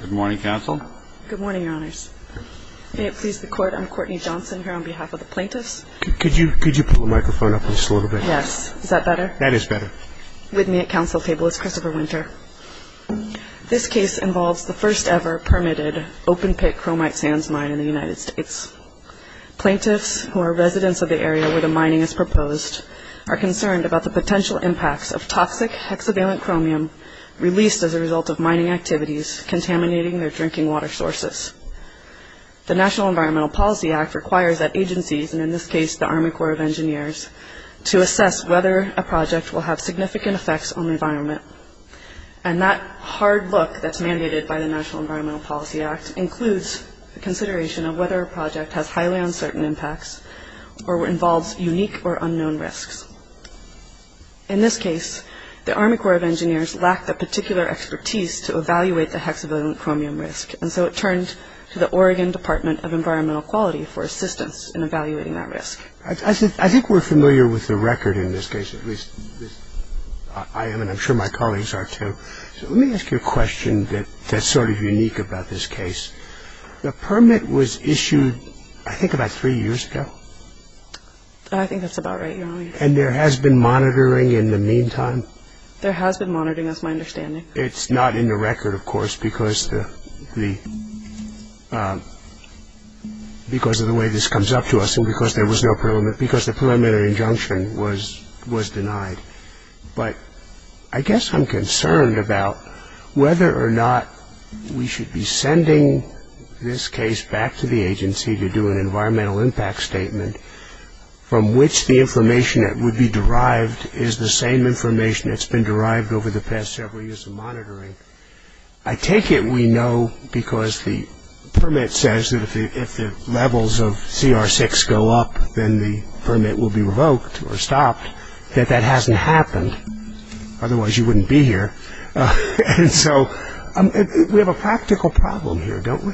Good morning, Counsel. Good morning, Your Honors. May it please the Court, I'm Courtney Johnson here on behalf of the Plaintiffs. Could you pull the microphone up just a little bit? Yes. Is that better? That is better. With me at Counsel table is Christopher Winter. This case involves the first ever permitted open pit chromite sands mine in the United States. Plaintiffs, who are residents of the area where the mining is proposed, are concerned about the potential impacts of toxic hexavalent chromium released as a result of mining activities contaminating their drinking water sources. The National Environmental Policy Act requires that agencies, and in this case the Army Corps of Engineers, to assess whether a project will have significant effects on the environment. And that hard look that's mandated by the National Environmental Policy Act includes the consideration of whether a project has highly uncertain impacts or involves unique or unknown risks. In this case, the Army Corps of Engineers lacked the particular expertise to evaluate the hexavalent chromium risk, and so it turned to the Oregon Department of Environmental Quality for assistance in evaluating that risk. I think we're familiar with the record in this case, at least I am, and I'm sure my colleagues are, too. Let me ask you a question that's sort of unique about this case. The permit was issued, I think, about three years ago? I think that's about right, Your Honor. And there has been monitoring in the meantime? There has been monitoring, that's my understanding. It's not in the record, of course, because of the way this comes up to us and because the preliminary injunction was denied. But I guess I'm concerned about whether or not we should be sending this case back to the agency to do an environmental impact statement from which the information that would be derived is the same information that's been derived over the past several years of monitoring. I take it we know because the permit says that if the levels of CR6 go up, then the permit will be revoked or stopped, that that hasn't happened. Otherwise, you wouldn't be here. And so we have a practical problem here, don't we?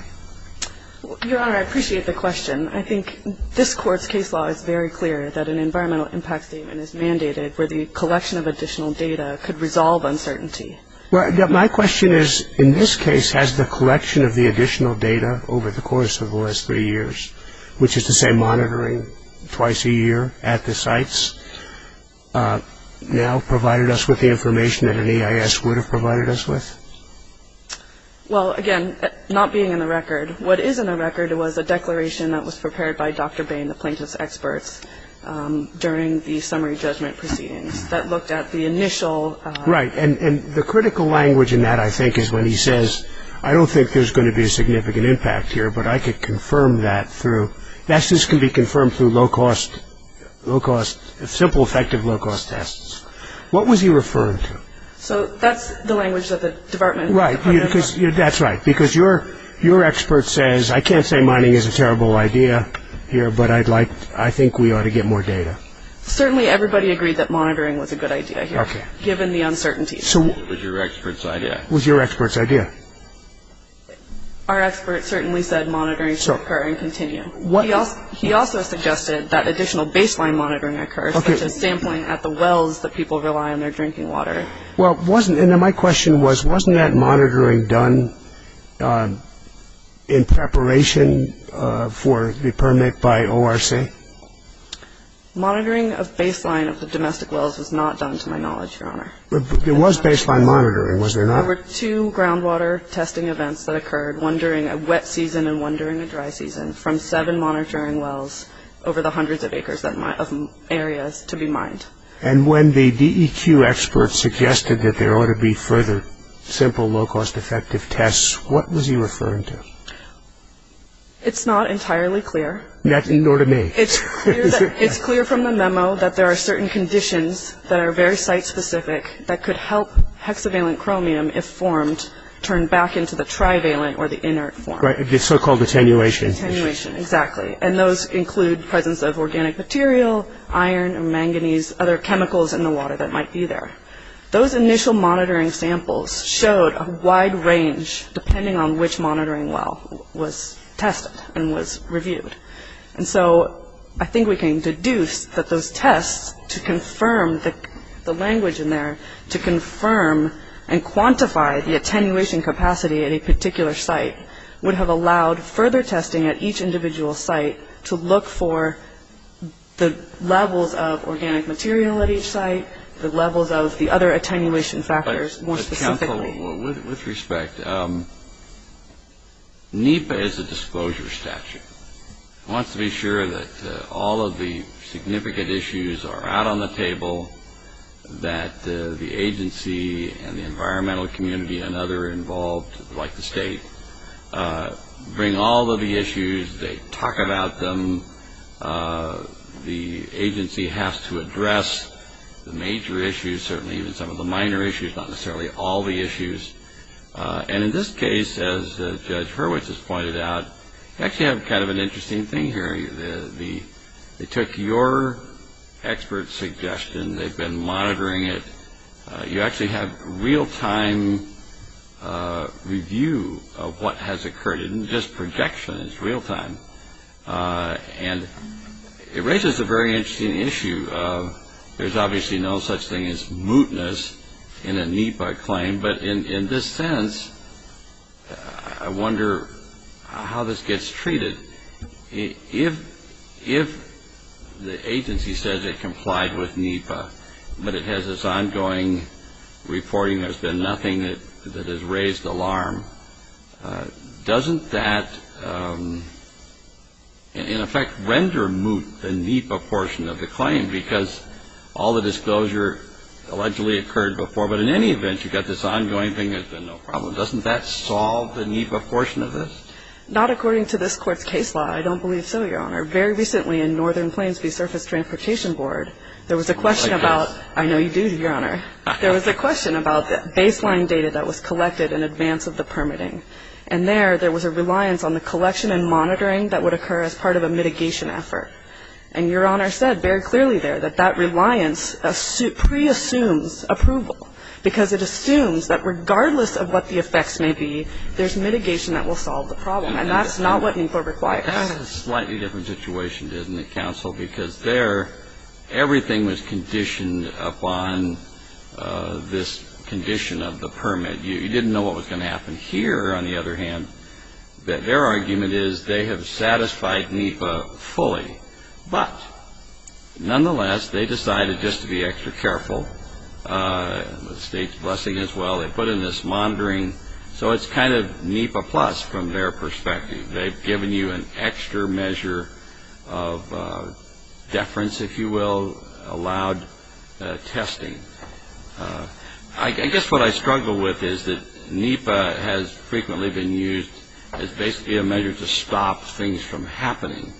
Your Honor, I appreciate the question. I think this Court's case law is very clear that an environmental impact statement is mandated where the collection of additional data could resolve uncertainty. My question is, in this case, has the collection of the additional data over the course of the last three years, which is to say monitoring twice a year at the sites, now provided us with the information that an EIS would have provided us with? Well, again, not being in the record. What is in the record was a declaration that was prepared by Dr. Bain, the plaintiff's experts, during the summary judgment proceedings that looked at the initial. Right. And the critical language in that, I think, is when he says, I don't think there's going to be a significant impact here, but I could confirm that through. This can be confirmed through low-cost, simple, effective low-cost tests. What was he referring to? So that's the language that the Department put in the record. That's right, because your expert says, I can't say mining is a terrible idea here, but I think we ought to get more data. Certainly, everybody agreed that monitoring was a good idea here, given the uncertainty. It was your expert's idea. Our expert certainly said monitoring should occur and continue. He also suggested that additional baseline monitoring occur, such as sampling at the wells that people rely on their drinking water. Well, wasn't – and my question was, wasn't that monitoring done in preparation for the permit by ORC? Monitoring of baseline of the domestic wells was not done, to my knowledge, Your Honor. There was baseline monitoring, was there not? There were two groundwater testing events that occurred, one during a wet season and one during a dry season, from seven monitoring wells over the hundreds of acres of areas to be mined. And when the DEQ expert suggested that there ought to be further simple, low-cost, effective tests, what was he referring to? It's not entirely clear. Nor to me. It's clear from the memo that there are certain conditions that are very site-specific that could help hexavalent chromium, if formed, turn back into the trivalent or the inert form. Right, the so-called attenuation. Attenuation, exactly. And those include presence of organic material, iron, manganese, other chemicals in the water that might be there. Those initial monitoring samples showed a wide range, depending on which monitoring well was tested and was reviewed. And so I think we can deduce that those tests to confirm the language in there, to confirm and quantify the attenuation capacity at a particular site, would have allowed further testing at each individual site to look for the levels of organic material at each site, the levels of the other attenuation factors more specifically. With respect, NEPA is a disclosure statute. It wants to be sure that all of the significant issues are out on the table, that the agency and the environmental community and other involved, like the state, bring all of the issues, they talk about them. The agency has to address the major issues, certainly even some of the minor issues, not necessarily all the issues. And in this case, as Judge Hurwitz has pointed out, you actually have kind of an interesting thing here. They took your expert suggestion, they've been monitoring it. You actually have real-time review of what has occurred. It isn't just projection, it's real-time. And it raises a very interesting issue. There's obviously no such thing as mootness in a NEPA claim, but in this sense, I wonder how this gets treated. If the agency says it complied with NEPA, but it has this ongoing reporting, there's been nothing that has raised alarm, doesn't that, in effect, render moot the NEPA portion of the claim, because all the disclosure allegedly occurred before, but in any event, you've got this ongoing thing, there's been no problem. Doesn't that solve the NEPA portion of this? Not according to this Court's case law, I don't believe so, Your Honor. Very recently, in Northern Plains v. Surface Transportation Board, there was a question about the baseline data that was collected in advance of the permitting. And there, there was a reliance on the collection and monitoring that would occur as part of a mitigation effort. And Your Honor said very clearly there that that reliance pre-assumes approval, because it assumes that regardless of what the effects may be, there's mitigation that will solve the problem. And that's not what NEPA requires. That's a slightly different situation, isn't it, Counsel, because there, everything was conditioned upon this condition of the permit. You didn't know what was going to happen here, on the other hand. Their argument is they have satisfied NEPA fully. But nonetheless, they decided just to be extra careful. The State's blessing as well, they put in this monitoring. So it's kind of NEPA plus from their perspective. They've given you an extra measure of deference, if you will, allowed testing. I guess what I struggle with is that NEPA has frequently been used as basically a measure to stop things from happening,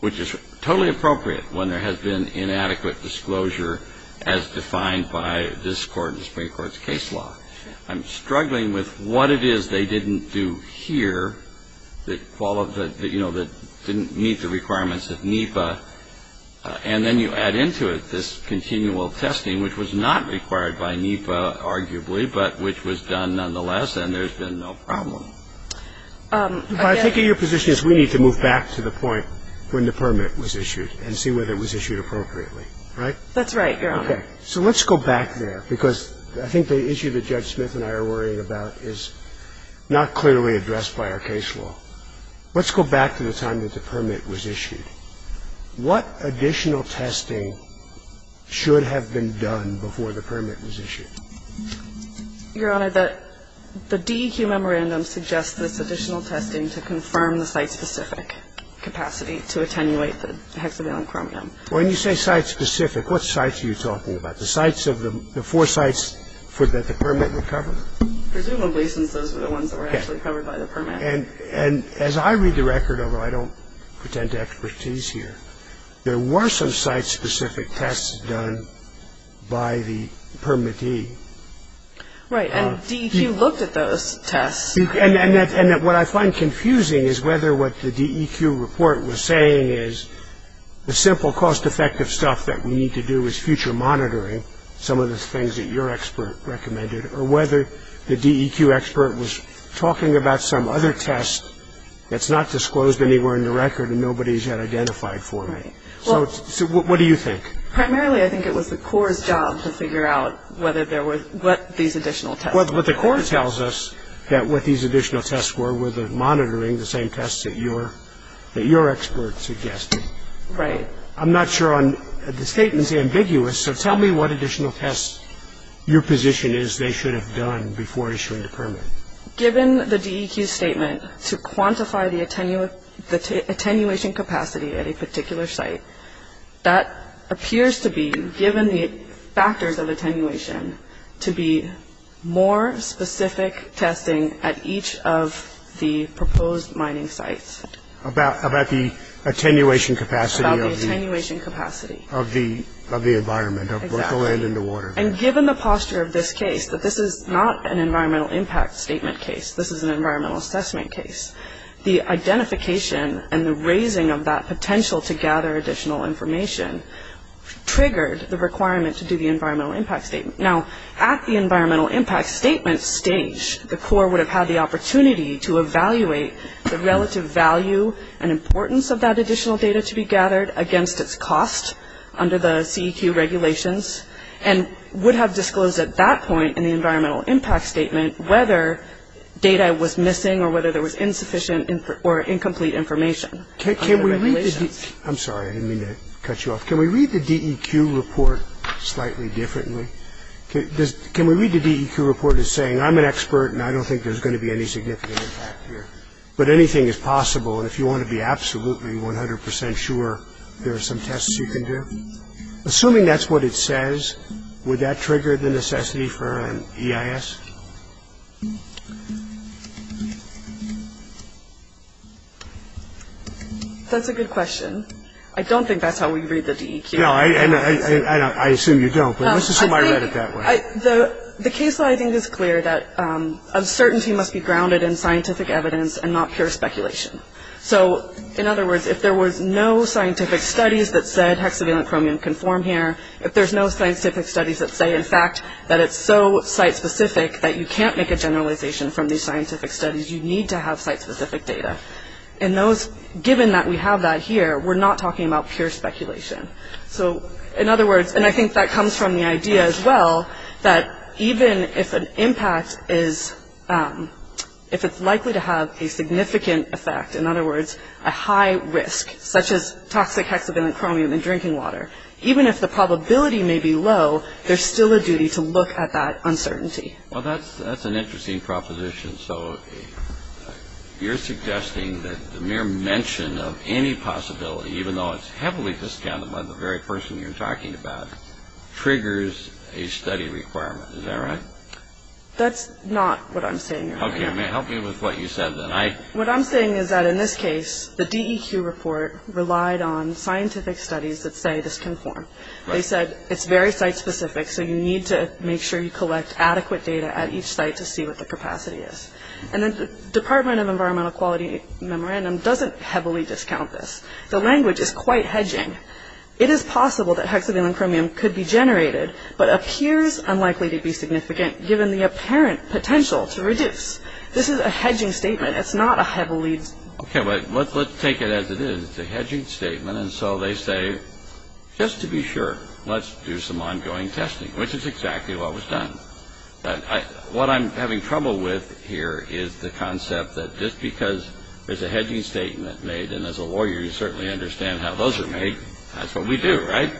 which is totally appropriate when there has been inadequate disclosure as defined by this Court and the Supreme Court's case law. I'm struggling with what it is they didn't do here that didn't meet the requirements of NEPA, and then you add into it this continual testing, which was not required by NEPA, arguably, but which was done nonetheless, and there's been no problem. I think your position is we need to move back to the point when the permit was issued and see whether it was issued appropriately, right? That's right, Your Honor. Okay. So let's go back there, because I think the issue that Judge Smith and I are worrying about is not clearly addressed by our case law. Let's go back to the time that the permit was issued. What additional testing should have been done before the permit was issued? Your Honor, the DEQ memorandum suggests this additional testing to confirm the site-specific capacity to attenuate the hexavalent chromium. When you say site-specific, what sites are you talking about? The sites of the four sites that the permit would cover? Presumably, since those were the ones that were actually covered by the permit. And as I read the record, although I don't pretend to expertise here, there were some site-specific tests done by the permittee. Right. And DEQ looked at those tests. And what I find confusing is whether what the DEQ report was saying is the simple cost-effective stuff that we need to do is future monitoring some of the things that your expert recommended, or whether the DEQ expert was talking about some other test that's not disclosed anywhere in the record and nobody has yet identified for me. Right. So what do you think? Primarily, I think it was the Corps' job to figure out what these additional tests were. Well, what the Corps tells us that what these additional tests were were the monitoring, the same tests that your expert suggested. Right. I'm not sure on the statement is ambiguous, so tell me what additional tests your position is they should have done before issuing the permit. Given the DEQ statement to quantify the attenuation capacity at a particular site, that appears to be, given the factors of attenuation, to be more specific testing at each of the proposed mining sites. About the attenuation capacity. About the attenuation capacity. Of the environment, of the land and the water. Exactly. And given the posture of this case, that this is not an environmental impact statement case, this is an environmental assessment case, the identification and the raising of that potential to gather additional information triggered the requirement to do the environmental impact statement. Now, at the environmental impact statement stage, the Corps would have had the opportunity to evaluate the relative value and importance of that additional data to be gathered against its cost under the CEQ regulations and would have disclosed at that point in the environmental impact statement whether data was missing or whether there was insufficient or incomplete information. I'm sorry, I didn't mean to cut you off. Can we read the DEQ report slightly differently? Can we read the DEQ report as saying, I'm an expert and I don't think there's going to be any significant impact here, but anything is possible and if you want to be absolutely 100% sure, there are some tests you can do? Assuming that's what it says, would that trigger the necessity for an EIS? That's a good question. I don't think that's how we read the DEQ. I assume you don't, but let's assume I read it that way. The case law, I think, is clear that uncertainty must be grounded in scientific evidence and not pure speculation. In other words, if there was no scientific studies that said hexavalent chromium can form here, if there's no scientific studies that say, in fact, that it's so site-specific that you can't make a generalization from these scientific studies, you need to have site-specific data. Given that we have that here, we're not talking about pure speculation. In other words, and I think that comes from the idea as well, that even if an impact is likely to have a significant effect, in other words, a high risk such as toxic hexavalent chromium in drinking water, even if the probability may be low, there's still a duty to look at that uncertainty. Well, that's an interesting proposition. So you're suggesting that the mere mention of any possibility, even though it's heavily discounted by the very person you're talking about, triggers a study requirement. Is that right? That's not what I'm saying, Your Honor. Okay. May I help you with what you said then? What I'm saying is that in this case, the DEQ report relied on scientific studies that say this can form. They said it's very site-specific, so you need to make sure you collect adequate data at each site to see what the capacity is. And the Department of Environmental Quality memorandum doesn't heavily discount this. The language is quite hedging. It is possible that hexavalent chromium could be generated, but appears unlikely to be significant given the apparent potential to reduce. This is a hedging statement. It's not a heavily- Okay, but let's take it as it is. It's a hedging statement. And so they say, just to be sure, let's do some ongoing testing, which is exactly what was done. What I'm having trouble with here is the concept that just because there's a hedging statement made, and as a lawyer, you certainly understand how those are made. That's what we do, right?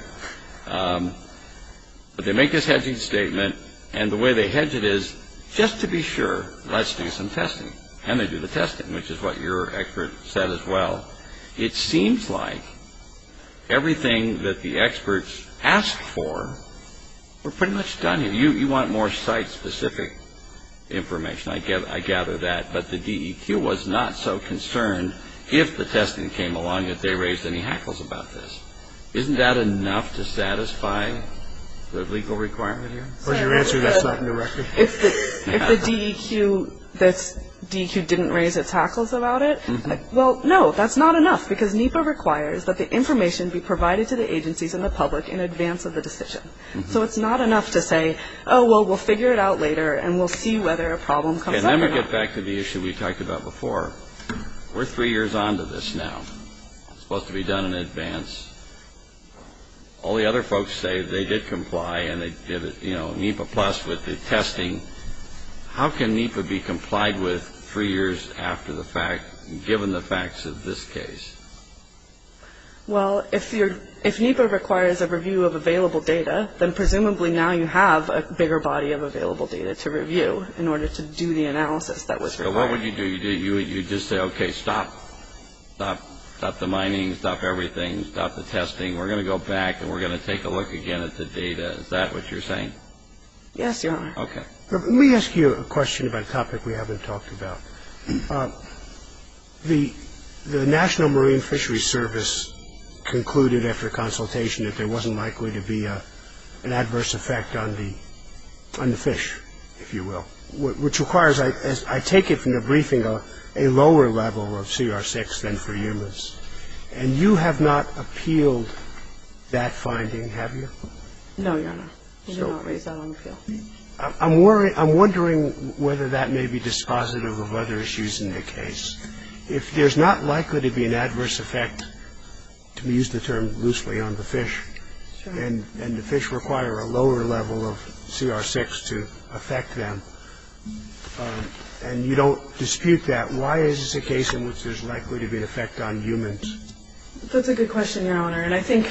But they make this hedging statement, and the way they hedge it is, just to be sure, let's do some testing. And they do the testing, which is what your expert said as well. It seems like everything that the experts asked for were pretty much done here. You want more site-specific information. I gather that. But the DEQ was not so concerned, if the testing came along, that they raised any hackles about this. Isn't that enough to satisfy the legal requirement here? What's your answer to that? If the DEQ didn't raise its hackles about it? Well, no, that's not enough, because NEPA requires that the information be provided to the agencies and the public in advance of the decision. So it's not enough to say, oh, well, we'll figure it out later, and we'll see whether a problem comes up or not. Let me get back to the issue we talked about before. We're three years on to this now. It's supposed to be done in advance. All the other folks say they did comply, and they did it, you know, NEPA plus with the testing. How can NEPA be complied with three years after the fact, given the facts of this case? Well, if NEPA requires a review of available data, then presumably now you have a bigger body of available data to review in order to do the analysis that was required. So what would you do? You would just say, okay, stop, stop the mining, stop everything, stop the testing. We're going to go back, and we're going to take a look again at the data. Is that what you're saying? Yes, Your Honor. Okay. Let me ask you a question about a topic we haven't talked about. The National Marine Fisheries Service concluded after consultation that there wasn't likely to be an adverse effect on the fish, if you will, which requires, I take it from the briefing, a lower level of CR6 than for humans. And you have not appealed that finding, have you? No, Your Honor. We have not raised that on the field. I'm wondering whether that may be dispositive of other issues in the case. If there's not likely to be an adverse effect, to use the term loosely, on the fish, and the fish require a lower level of CR6 to affect them, and you don't dispute that, why is this a case in which there's likely to be an effect on humans? That's a good question, Your Honor. And I think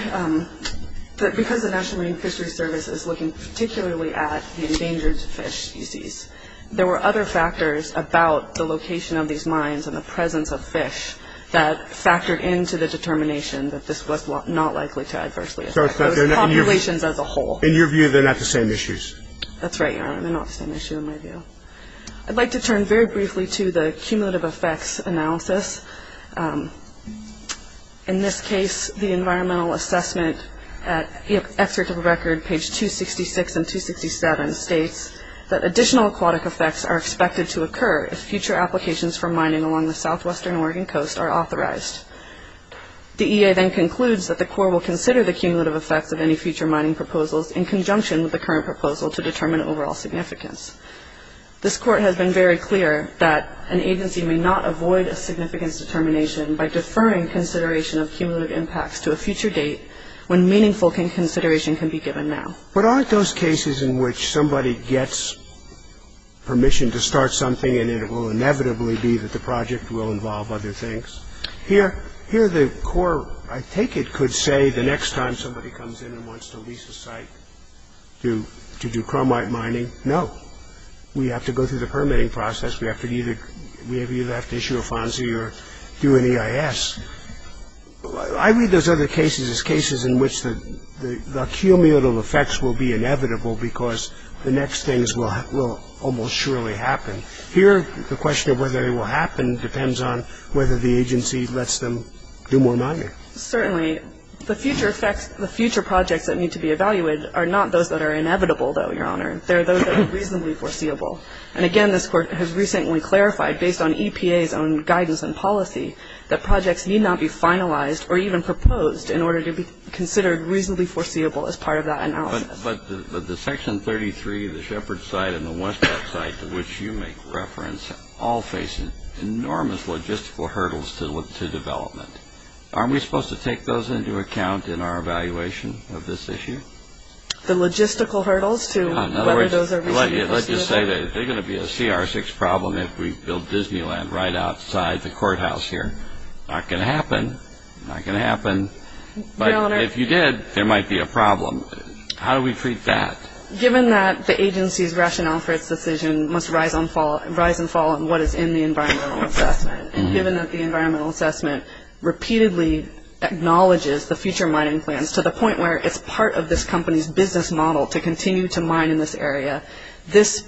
that because the National Marine Fisheries Service is looking particularly at the endangered fish species, there were other factors about the location of these mines and the presence of fish that factored into the determination that this was not likely to adversely affect those populations as a whole. In your view, they're not the same issues? That's right, Your Honor. They're not the same issue in my view. I'd like to turn very briefly to the cumulative effects analysis. In this case, the environmental assessment excerpt of a record, page 266 and 267, states that additional aquatic effects are expected to occur if future applications for mining along the southwestern Oregon coast are authorized. The EA then concludes that the Corps will consider the cumulative effects of any future mining proposals in conjunction with the current proposal to determine overall significance. This Court has been very clear that an agency may not avoid a significance determination by deferring consideration of cumulative impacts to a future date when meaningful consideration can be given now. But aren't those cases in which somebody gets permission to start something and it will inevitably be that the project will involve other things? Here the Corps, I take it, could say the next time somebody comes in and wants to lease a site to do chromite mining, no, we have to go through the permitting process. We have to either issue a FONSI or do an EIS. I read those other cases as cases in which the cumulative effects will be inevitable because the next things will almost surely happen. Here the question of whether they will happen depends on whether the agency lets them do more mining. Certainly. The future effects, the future projects that need to be evaluated are not those that are inevitable, though, Your Honor. They're those that are reasonably foreseeable. And, again, this Court has recently clarified, based on EPA's own guidance and policy, that projects need not be finalized or even proposed in order to be considered reasonably foreseeable as part of that analysis. But the Section 33, the Shepherd site and the Westbrook site to which you make reference all face enormous logistical hurdles to development. Aren't we supposed to take those into account in our evaluation of this issue? The logistical hurdles to whether those are reasonably foreseeable? Let's just say that they're going to be a CR6 problem if we build Disneyland right outside the courthouse here. Not going to happen. Not going to happen. But if you did, there might be a problem. How do we treat that? Given that the agency's rationale for its decision must rise and fall on what is in the environmental assessment, given that the environmental assessment repeatedly acknowledges the future mining plans to the point where it's part of this company's business model to continue to mine in this area, this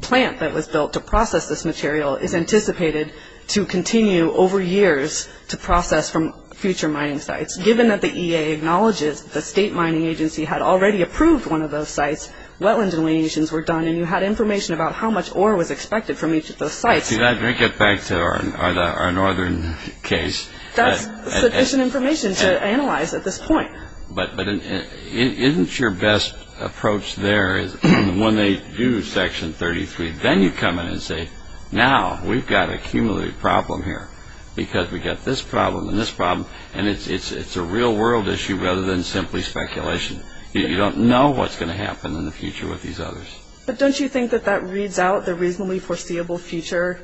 plant that was built to process this material is anticipated to continue over years to process from future mining sites. Given that the EA acknowledges that the state mining agency had already approved one of those sites, wetland deletions were done, and you had information about how much ore was expected from each of those sites. Did I break it back to our northern case? That's sufficient information to analyze at this point. But isn't your best approach there is when they do Section 33, then you come in and say, now we've got a cumulative problem here because we've got this problem and this problem, and it's a real-world issue rather than simply speculation. You don't know what's going to happen in the future with these others. But don't you think that that reads out the reasonably foreseeable future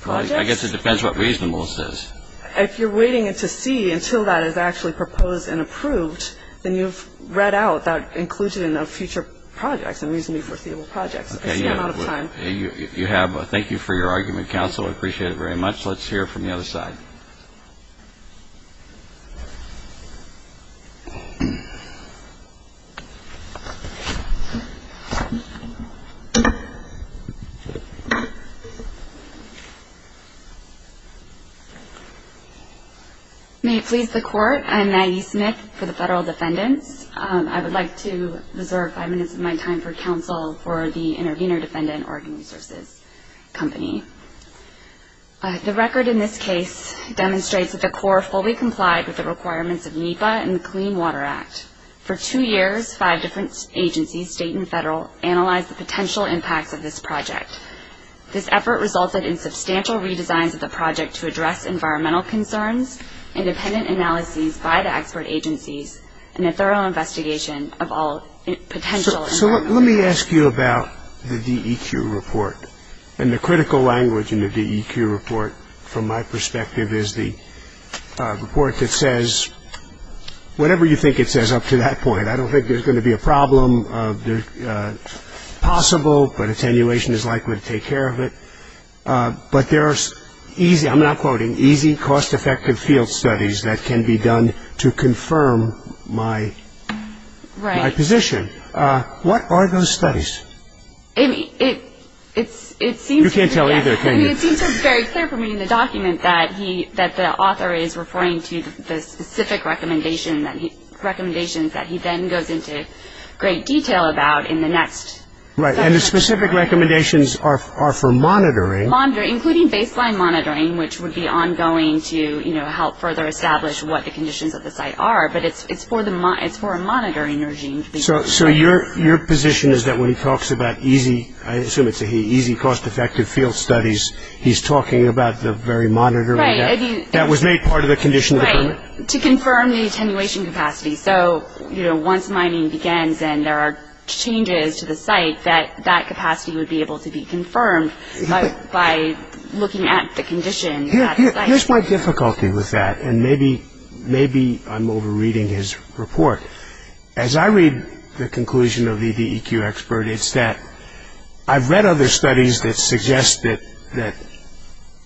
project? I guess it depends what reasonable says. If you're waiting to see until that is actually proposed and approved, then you've read out that inclusion of future projects and reasonably foreseeable projects. I see I'm out of time. Thank you for your argument, counsel. I appreciate it very much. Let's hear from the other side. May it please the Court, I'm Maggie Smith for the Federal Defendants. I would like to reserve five minutes of my time for counsel for the Intervenor Defendant Oregon Resources Company. The record in this case demonstrates that the Corps fully complied with the requirements of NEPA and the Clean Water Act. For two years, five different agencies, state and federal, analyzed the potential impacts of this project. This effort resulted in substantial redesigns of the project to address environmental concerns, independent analyses by the expert agencies, and a thorough investigation of all potential environmental. So let me ask you about the DEQ report. And the critical language in the DEQ report, from my perspective, is the report that says whatever you think it says up to that point. I don't think there's going to be a problem. It's possible, but attenuation is likely to take care of it. But there are easy, I'm not quoting, easy, cost-effective field studies that can be done to confirm my position. What are those studies? You can't tell either, can you? It seems to be very clear for me in the document that the author is referring to the specific recommendations that he then goes into great detail about in the next. Right, and the specific recommendations are for monitoring. Monitoring, including baseline monitoring, which would be ongoing to help further establish what the conditions of the site are. But it's for a monitoring regime. So your position is that when he talks about easy, I assume it's easy, cost-effective field studies, he's talking about the very monitoring that was made part of the condition of the permit? Right, to confirm the attenuation capacity. So, you know, once mining begins and there are changes to the site, that that capacity would be able to be confirmed by looking at the condition at the site. Here's my difficulty with that, and maybe I'm over-reading his report. As I read the conclusion of the DEQ expert, it's that I've read other studies that suggest that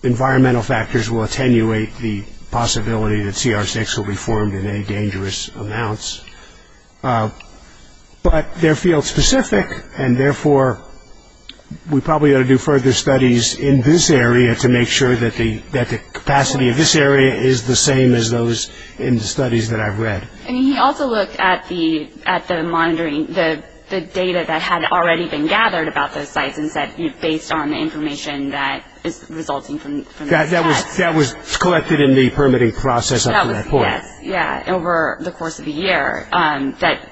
environmental factors will attenuate the possibility that CR6 will be formed in any dangerous amounts. But they're field-specific, and therefore we probably ought to do further studies in this area to make sure that the capacity of this area is the same as those in the studies that I've read. And he also looked at the monitoring, the data that had already been gathered about those sites and said based on the information that is resulting from the tests. That was collected in the permitting process up to that point. Yes, yeah, over the course of the year, that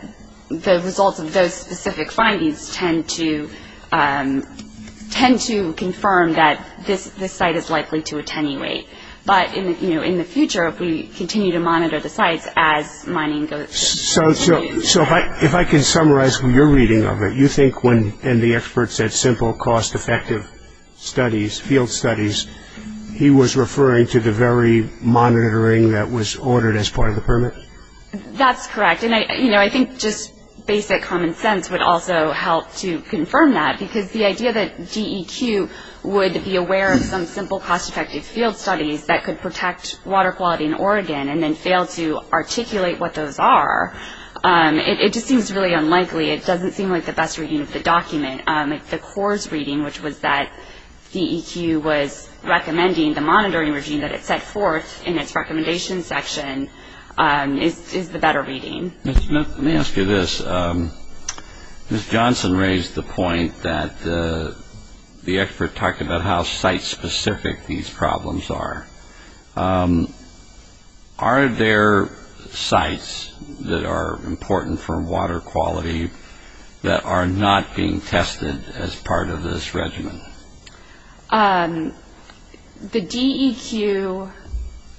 the results of those specific findings tend to confirm that this site is likely to attenuate. But in the future, if we continue to monitor the sites as mining goes on. So if I can summarize from your reading of it, you think when, and the expert said simple cost-effective studies, field studies, he was referring to the very monitoring that was ordered as part of the permit? That's correct. And I think just basic common sense would also help to confirm that, because the idea that DEQ would be aware of some simple cost-effective field studies that could protect water quality in Oregon and then fail to articulate what those are, it just seems really unlikely. It doesn't seem like the best reading of the document. The CORS reading, which was that DEQ was recommending the monitoring regime that it set forth in its recommendation section, is the better reading. Let me ask you this. Ms. Johnson raised the point that the expert talked about how site-specific these problems are. Are there sites that are important for water quality that are not being tested as part of this regimen? The DEQ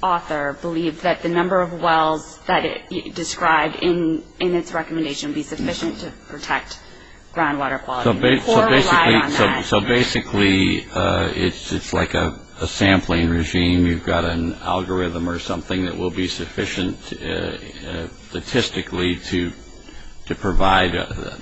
author believed that the number of wells that it described in its recommendation would be sufficient to protect groundwater quality. So basically it's like a sampling regime. You've got an algorithm or something that will be sufficient statistically to provide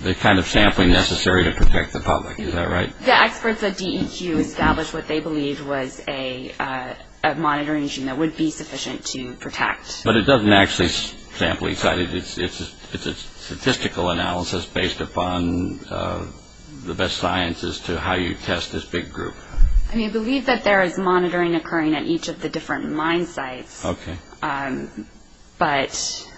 the kind of sampling necessary to protect the public. Is that right? The experts at DEQ established what they believed was a monitoring regime that would be sufficient to protect. But it doesn't actually sample each site. It's a statistical analysis based upon the best sciences to how you test this big group. I mean, I believe that there is monitoring occurring at each of the different mine sites. Okay. But,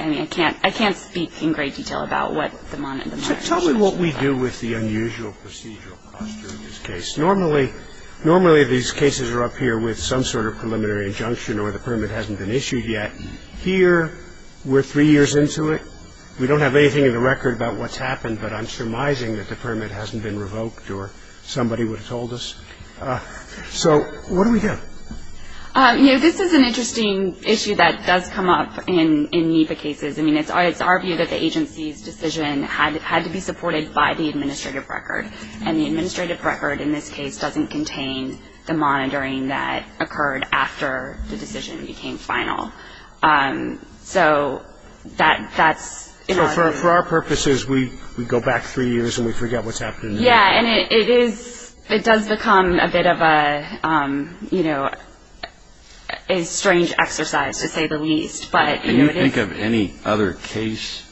I mean, I can't speak in great detail about what the monitoring regime is. Tell me what we do with the unusual procedural posture in this case. Normally these cases are up here with some sort of preliminary injunction or the permit hasn't been issued yet. Here we're three years into it. We don't have anything in the record about what's happened, but I'm surmising that the permit hasn't been revoked or somebody would have told us. So what do we do? This is an interesting issue that does come up in NEPA cases. I mean, it's our view that the agency's decision had to be supported by the administrative record, and the administrative record in this case doesn't contain the monitoring that occurred after the decision became final. So that's- So for our purposes we go back three years and we forget what's happened. Yeah, and it does become a bit of a, you know, a strange exercise to say the least. Can you think of any other case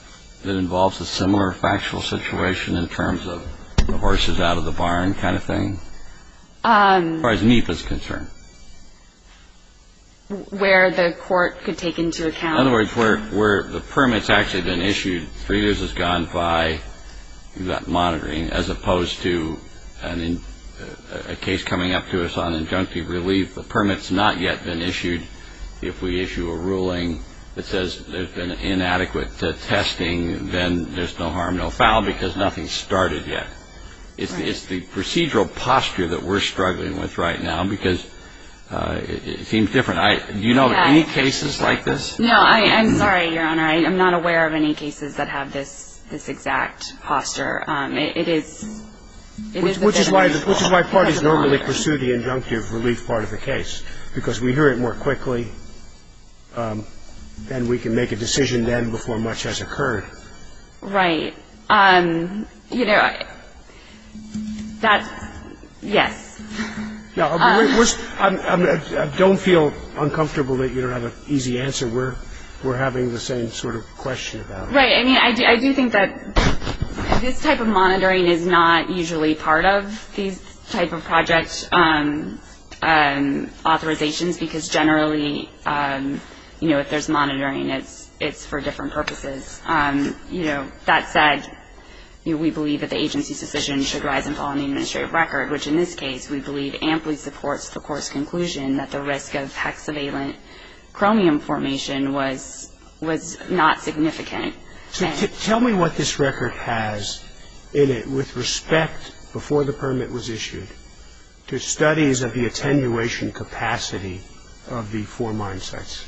that involves a similar factual situation in terms of the horses out of the barn kind of thing, as far as NEPA is concerned? Where the court could take into account- In other words, where the permit's actually been issued, three years has gone by without monitoring as opposed to a case coming up to us on injunctive relief. If the permit's not yet been issued, if we issue a ruling that says there's been inadequate testing, then there's no harm, no foul because nothing's started yet. It's the procedural posture that we're struggling with right now because it seems different. Do you know of any cases like this? No, I'm sorry, Your Honor, I'm not aware of any cases that have this exact posture. Which is why parties normally pursue the injunctive relief part of the case because we hear it more quickly and we can make a decision then before much has occurred. Right. You know, that's- yes. Now, don't feel uncomfortable that you don't have an easy answer. We're having the same sort of question about it. Right. I mean, I do think that this type of monitoring is not usually part of these type of project authorizations because generally, you know, if there's monitoring, it's for different purposes. You know, that said, we believe that the agency's decision should rise and fall on the administrative record, which in this case we believe amply supports the court's conclusion that the risk of hexavalent chromium formation was not significant. So tell me what this record has in it with respect, before the permit was issued, to studies of the attenuation capacity of the four mine sites,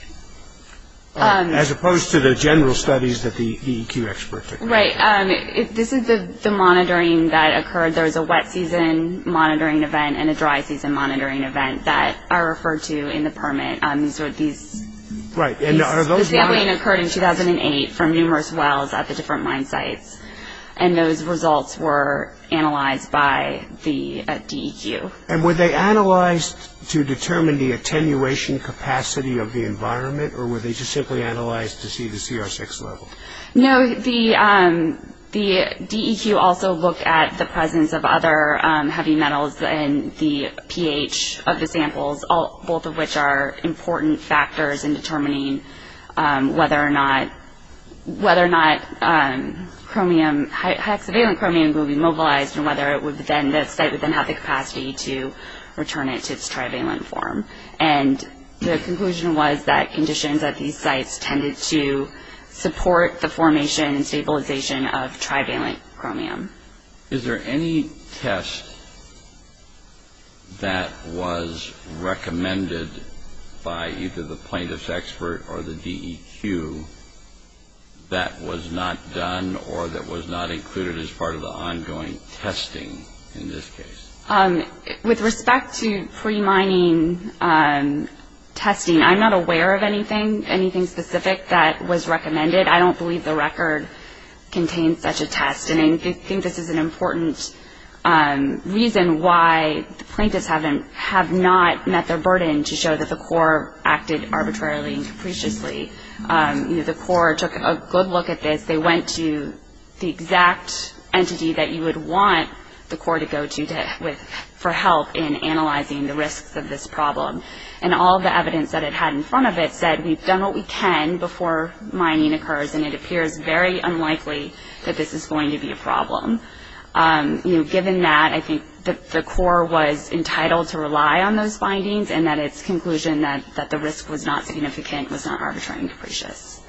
as opposed to the general studies that the EEQ experts are doing. Right. This is the monitoring that occurred. There's a wet season monitoring event and a dry season monitoring event that are referred to in the permit. These were these- Right. And are those- This sampling occurred in 2008 from numerous wells at the different mine sites. And those results were analyzed by the DEQ. And were they analyzed to determine the attenuation capacity of the environment or were they just simply analyzed to see the CR6 level? No, the DEQ also looked at the presence of other heavy metals and the pH of the samples, both of which are important factors in determining whether or not chromium, hexavalent chromium would be mobilized and whether it would then, the site would then have the capacity to return it to its trivalent form. And the conclusion was that conditions at these sites tended to support the formation and stabilization of trivalent chromium. Is there any test that was recommended by either the plaintiff's expert or the DEQ that was not done or that was not included as part of the ongoing testing in this case? With respect to pre-mining testing, I'm not aware of anything, anything specific that was recommended. I don't believe the record contains such a test. And I think this is an important reason why the plaintiffs have not met their burden to show that the Corps acted arbitrarily and capriciously. The Corps took a good look at this. They went to the exact entity that you would want the Corps to go to for help in analyzing the risks of this problem. And all the evidence that it had in front of it said, we've done what we can before mining occurs, and it appears very unlikely that this is going to be a problem. Given that, I think the Corps was entitled to rely on those findings and that its conclusion that the risk was not significant was not arbitrary and capricious.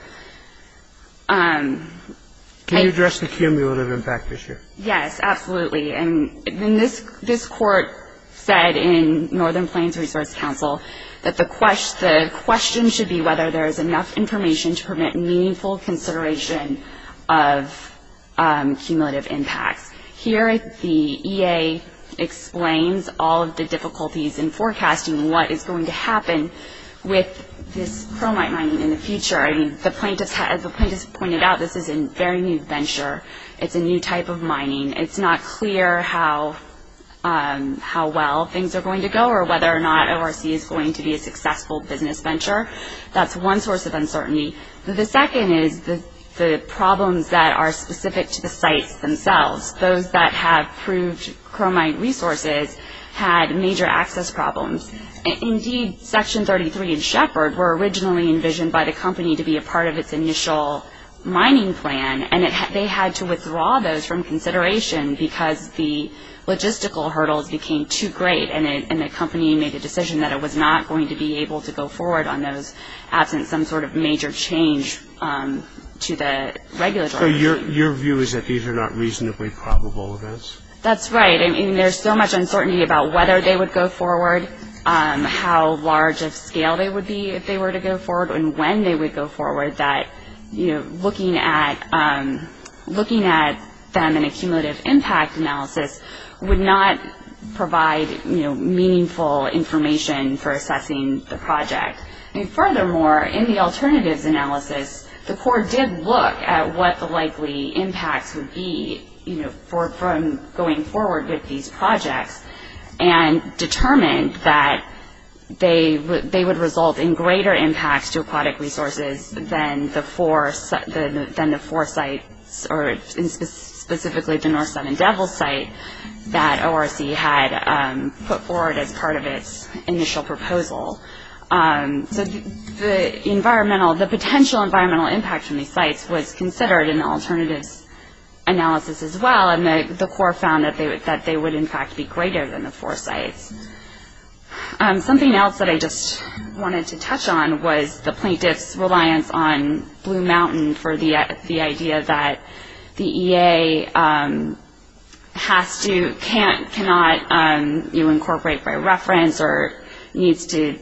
Can you address the cumulative impact issue? Yes, absolutely. And this Court said in Northern Plains Resource Council that the question should be whether there is enough information to permit meaningful consideration of cumulative impacts. Here, the EA explains all of the difficulties in forecasting what is going to happen with this chromite mining in the future. As the plaintiffs pointed out, this is a very new venture. It's a new type of mining. It's not clear how well things are going to go or whether or not ORC is going to be a successful business venture. That's one source of uncertainty. The second is the problems that are specific to the sites themselves. Those that have proved chromite resources had major access problems. Indeed, Section 33 and Shepard were originally envisioned by the company to be a part of its initial mining plan, and they had to withdraw those from consideration because the logistical hurdles became too great, and the company made a decision that it was not going to be able to go forward on those absent some sort of major change to the regulatory regime. So your view is that these are not reasonably probable events? That's right. I mean, there's so much uncertainty about whether they would go forward, how large of scale they would be if they were to go forward, and when they would go forward that looking at them in a cumulative impact analysis would not provide meaningful information for assessing the project. And furthermore, in the alternatives analysis, the Corps did look at what the likely impacts would be from going forward with these projects and determined that they would result in greater impacts to aquatic resources than the four sites or specifically the North Sun and Devil site that ORC had put forward as part of its initial proposal. So the environmental, the potential environmental impact from these sites was considered in the alternatives analysis as well, and the Corps found that they would in fact be greater than the four sites. Something else that I just wanted to touch on was the plaintiff's reliance on Blue Mountain for the idea that the EA has to, can't, cannot, you know, incorporate by reference or needs to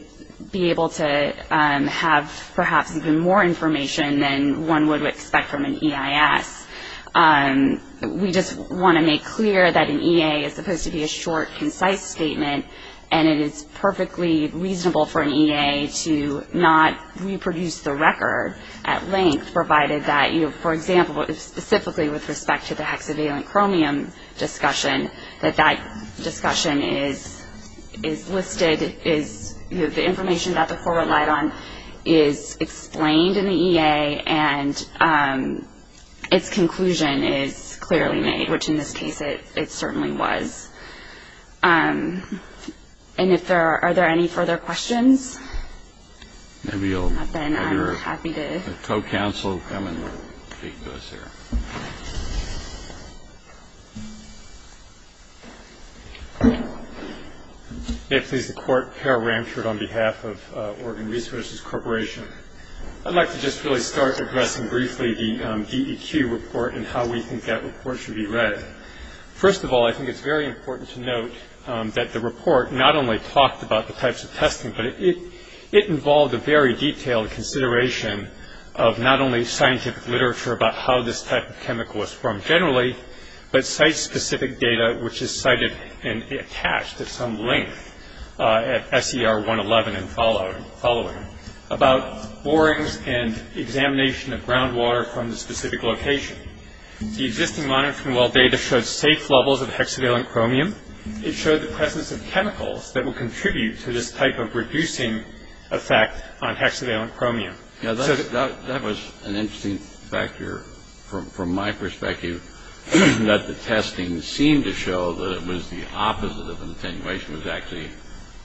be able to have perhaps even more information than one would expect from an EIS. We just want to make clear that an EA is supposed to be a short, concise statement, and it is perfectly reasonable for an EA to not reproduce the record at length, provided that, you know, for example, specifically with respect to the hexavalent chromium discussion, that that discussion is listed, is, you know, the information that the Corps relied on is explained in the EA, and its conclusion is clearly made, which in this case it certainly was. And if there are, are there any further questions? Then I'm happy to. Maybe you'll have a co-counsel come and speak to us here. May it please the Court, Harold Ramchur on behalf of Oregon Resources Corporation. I'd like to just really start addressing briefly the DEQ report and how we think that report should be read. First of all, I think it's very important to note that the report not only talked about the types of testing, but it involved a very detailed consideration of not only scientific literature about how this type of chemical was formed generally, but site-specific data, which is cited and attached at some length at SER 111 and following, about borings and examination of groundwater from the specific location. The existing monitoring well data showed safe levels of hexavalent chromium. It showed the presence of chemicals that would contribute to this type of reducing effect on hexavalent chromium. That was an interesting factor from my perspective, that the testing seemed to show that it was the opposite of an attenuation. It was actually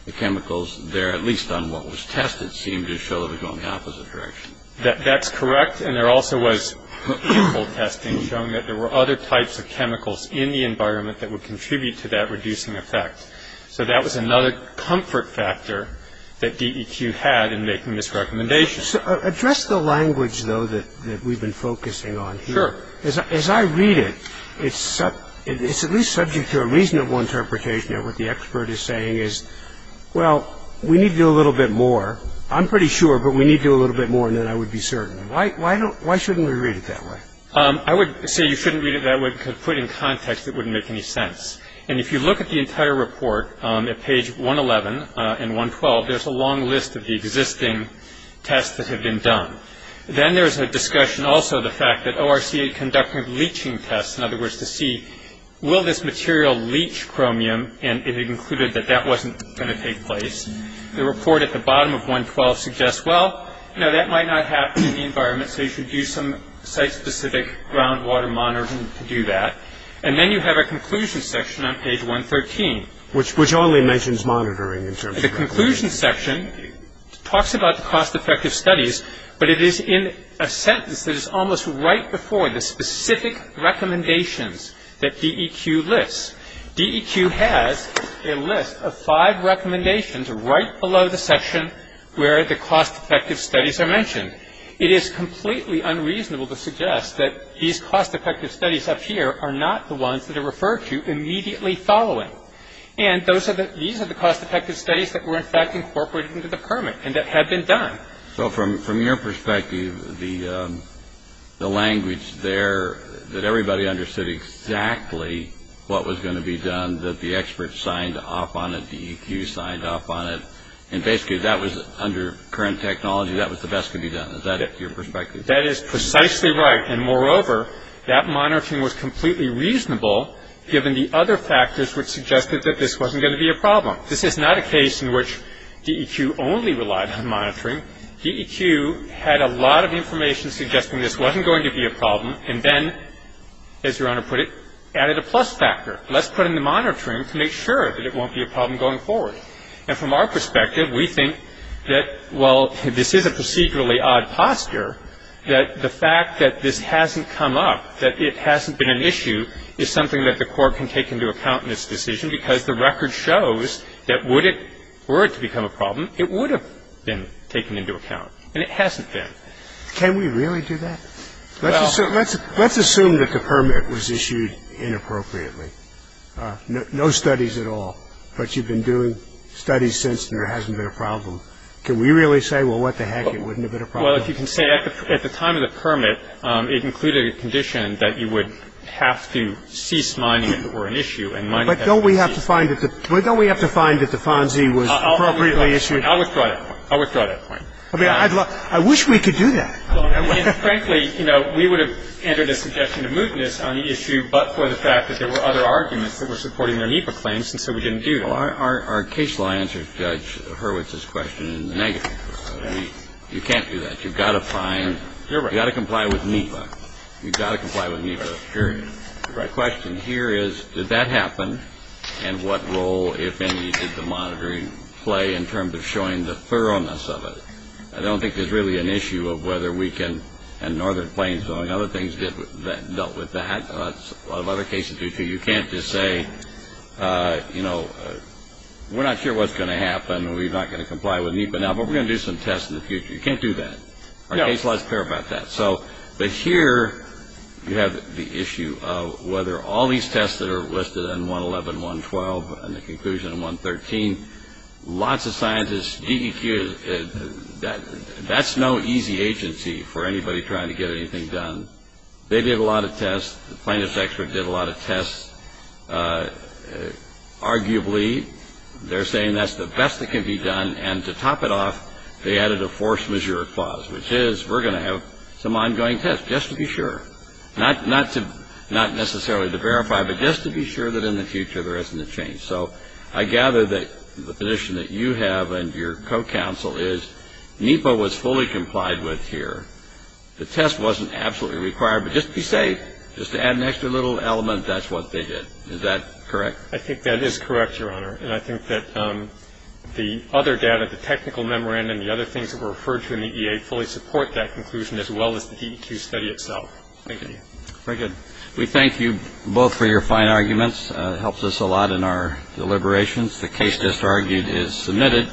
the chemicals there, at least on what was tested, seemed to show that it was going the opposite direction. That's correct. And there also was sample testing showing that there were other types of chemicals in the environment that would contribute to that reducing effect. So that was another comfort factor that DEQ had in making this recommendation. So address the language, though, that we've been focusing on here. Sure. As I read it, it's at least subject to a reasonable interpretation of what the expert is saying is, well, we need to do a little bit more. I'm pretty sure, but we need to do a little bit more, and then I would be certain. Why shouldn't we read it that way? I would say you shouldn't read it that way because put in context, it wouldn't make any sense. And if you look at the entire report at page 111 and 112, there's a long list of the existing tests that have been done. Then there's a discussion also of the fact that ORCA conducted leaching tests, in other words, to see will this material leach chromium, and it included that that wasn't going to take place. The report at the bottom of 112 suggests, well, no, that might not happen in the environment, so you should do some site-specific groundwater monitoring to do that. And then you have a conclusion section on page 113. Which only mentions monitoring in terms of groundwater. The conclusion section talks about the cost-effective studies, but it is in a sentence that is almost right before the specific recommendations that DEQ lists. DEQ has a list of five recommendations right below the section where the cost-effective studies are mentioned. It is completely unreasonable to suggest that these cost-effective studies up here are not the ones that are referred to immediately following. And these are the cost-effective studies that were, in fact, incorporated into the permit and that have been done. So from your perspective, the language there that everybody understood exactly what was going to be done, that the experts signed off on it, the DEQ signed off on it, and basically that was, under current technology, that was the best that could be done. Is that it, your perspective? That is precisely right. And moreover, that monitoring was completely reasonable, given the other factors which suggested that this wasn't going to be a problem. This is not a case in which DEQ only relied on monitoring. DEQ had a lot of information suggesting this wasn't going to be a problem, and then, as Your Honor put it, added a plus factor. Let's put in the monitoring to make sure that it won't be a problem going forward. And from our perspective, we think that while this is a procedurally odd posture, that the fact that this hasn't come up, that it hasn't been an issue, is something that the Court can take into account in its decision, because the record shows that would it were it to become a problem, it would have been taken into account, and it hasn't been. Can we really do that? Let's assume that the permit was issued inappropriately, no studies at all, but you've been doing studies since and there hasn't been a problem. Can we really say, well, what the heck, it wouldn't have been a problem? Well, if you can say at the time of the permit, it included a condition that you would have to cease mining if it were an issue. But don't we have to find that the FONSI was appropriately issued? I'll withdraw that point. I'll withdraw that point. I wish we could do that. Frankly, you know, we would have entered a suggestion of mootness on the issue, but for the fact that there were other arguments that were supporting their NEPA claims, and so we didn't do that. Well, our case law answers Judge Hurwitz's question in the negative. You can't do that. You've got to find, you've got to comply with NEPA. You've got to comply with NEPA, period. The question here is, did that happen, and what role, if any, did the monitoring play in terms of showing the thoroughness of it? I don't think there's really an issue of whether we can, and Northern Plains and other things dealt with that. A lot of other cases do, too. You can't just say, you know, we're not sure what's going to happen. We're not going to comply with NEPA now, but we're going to do some tests in the future. You can't do that. Our case law is clear about that. So, but here you have the issue of whether all these tests that are listed in 111, 112, and the conclusion in 113, lots of scientists, DEQ, that's no easy agency for anybody trying to get anything done. They did a lot of tests. The plaintiffs' expert did a lot of tests. Arguably, they're saying that's the best that can be done, and to top it off, they added a force majeure clause, which is we're going to have some ongoing tests, just to be sure. Not necessarily to verify, but just to be sure that in the future there isn't a change. So I gather that the position that you have and your co-counsel is NEPA was fully complied with here. The test wasn't absolutely required, but just to be safe, just to add an extra little element, that's what they did. Is that correct? I think that is correct, Your Honor, and I think that the other data, the technical memorandum, and the other things that were referred to in the EA fully support that conclusion, as well as the DEQ study itself. Thank you. Very good. We thank you both for your fine arguments. It helps us a lot in our deliberations. The case that's argued is submitted.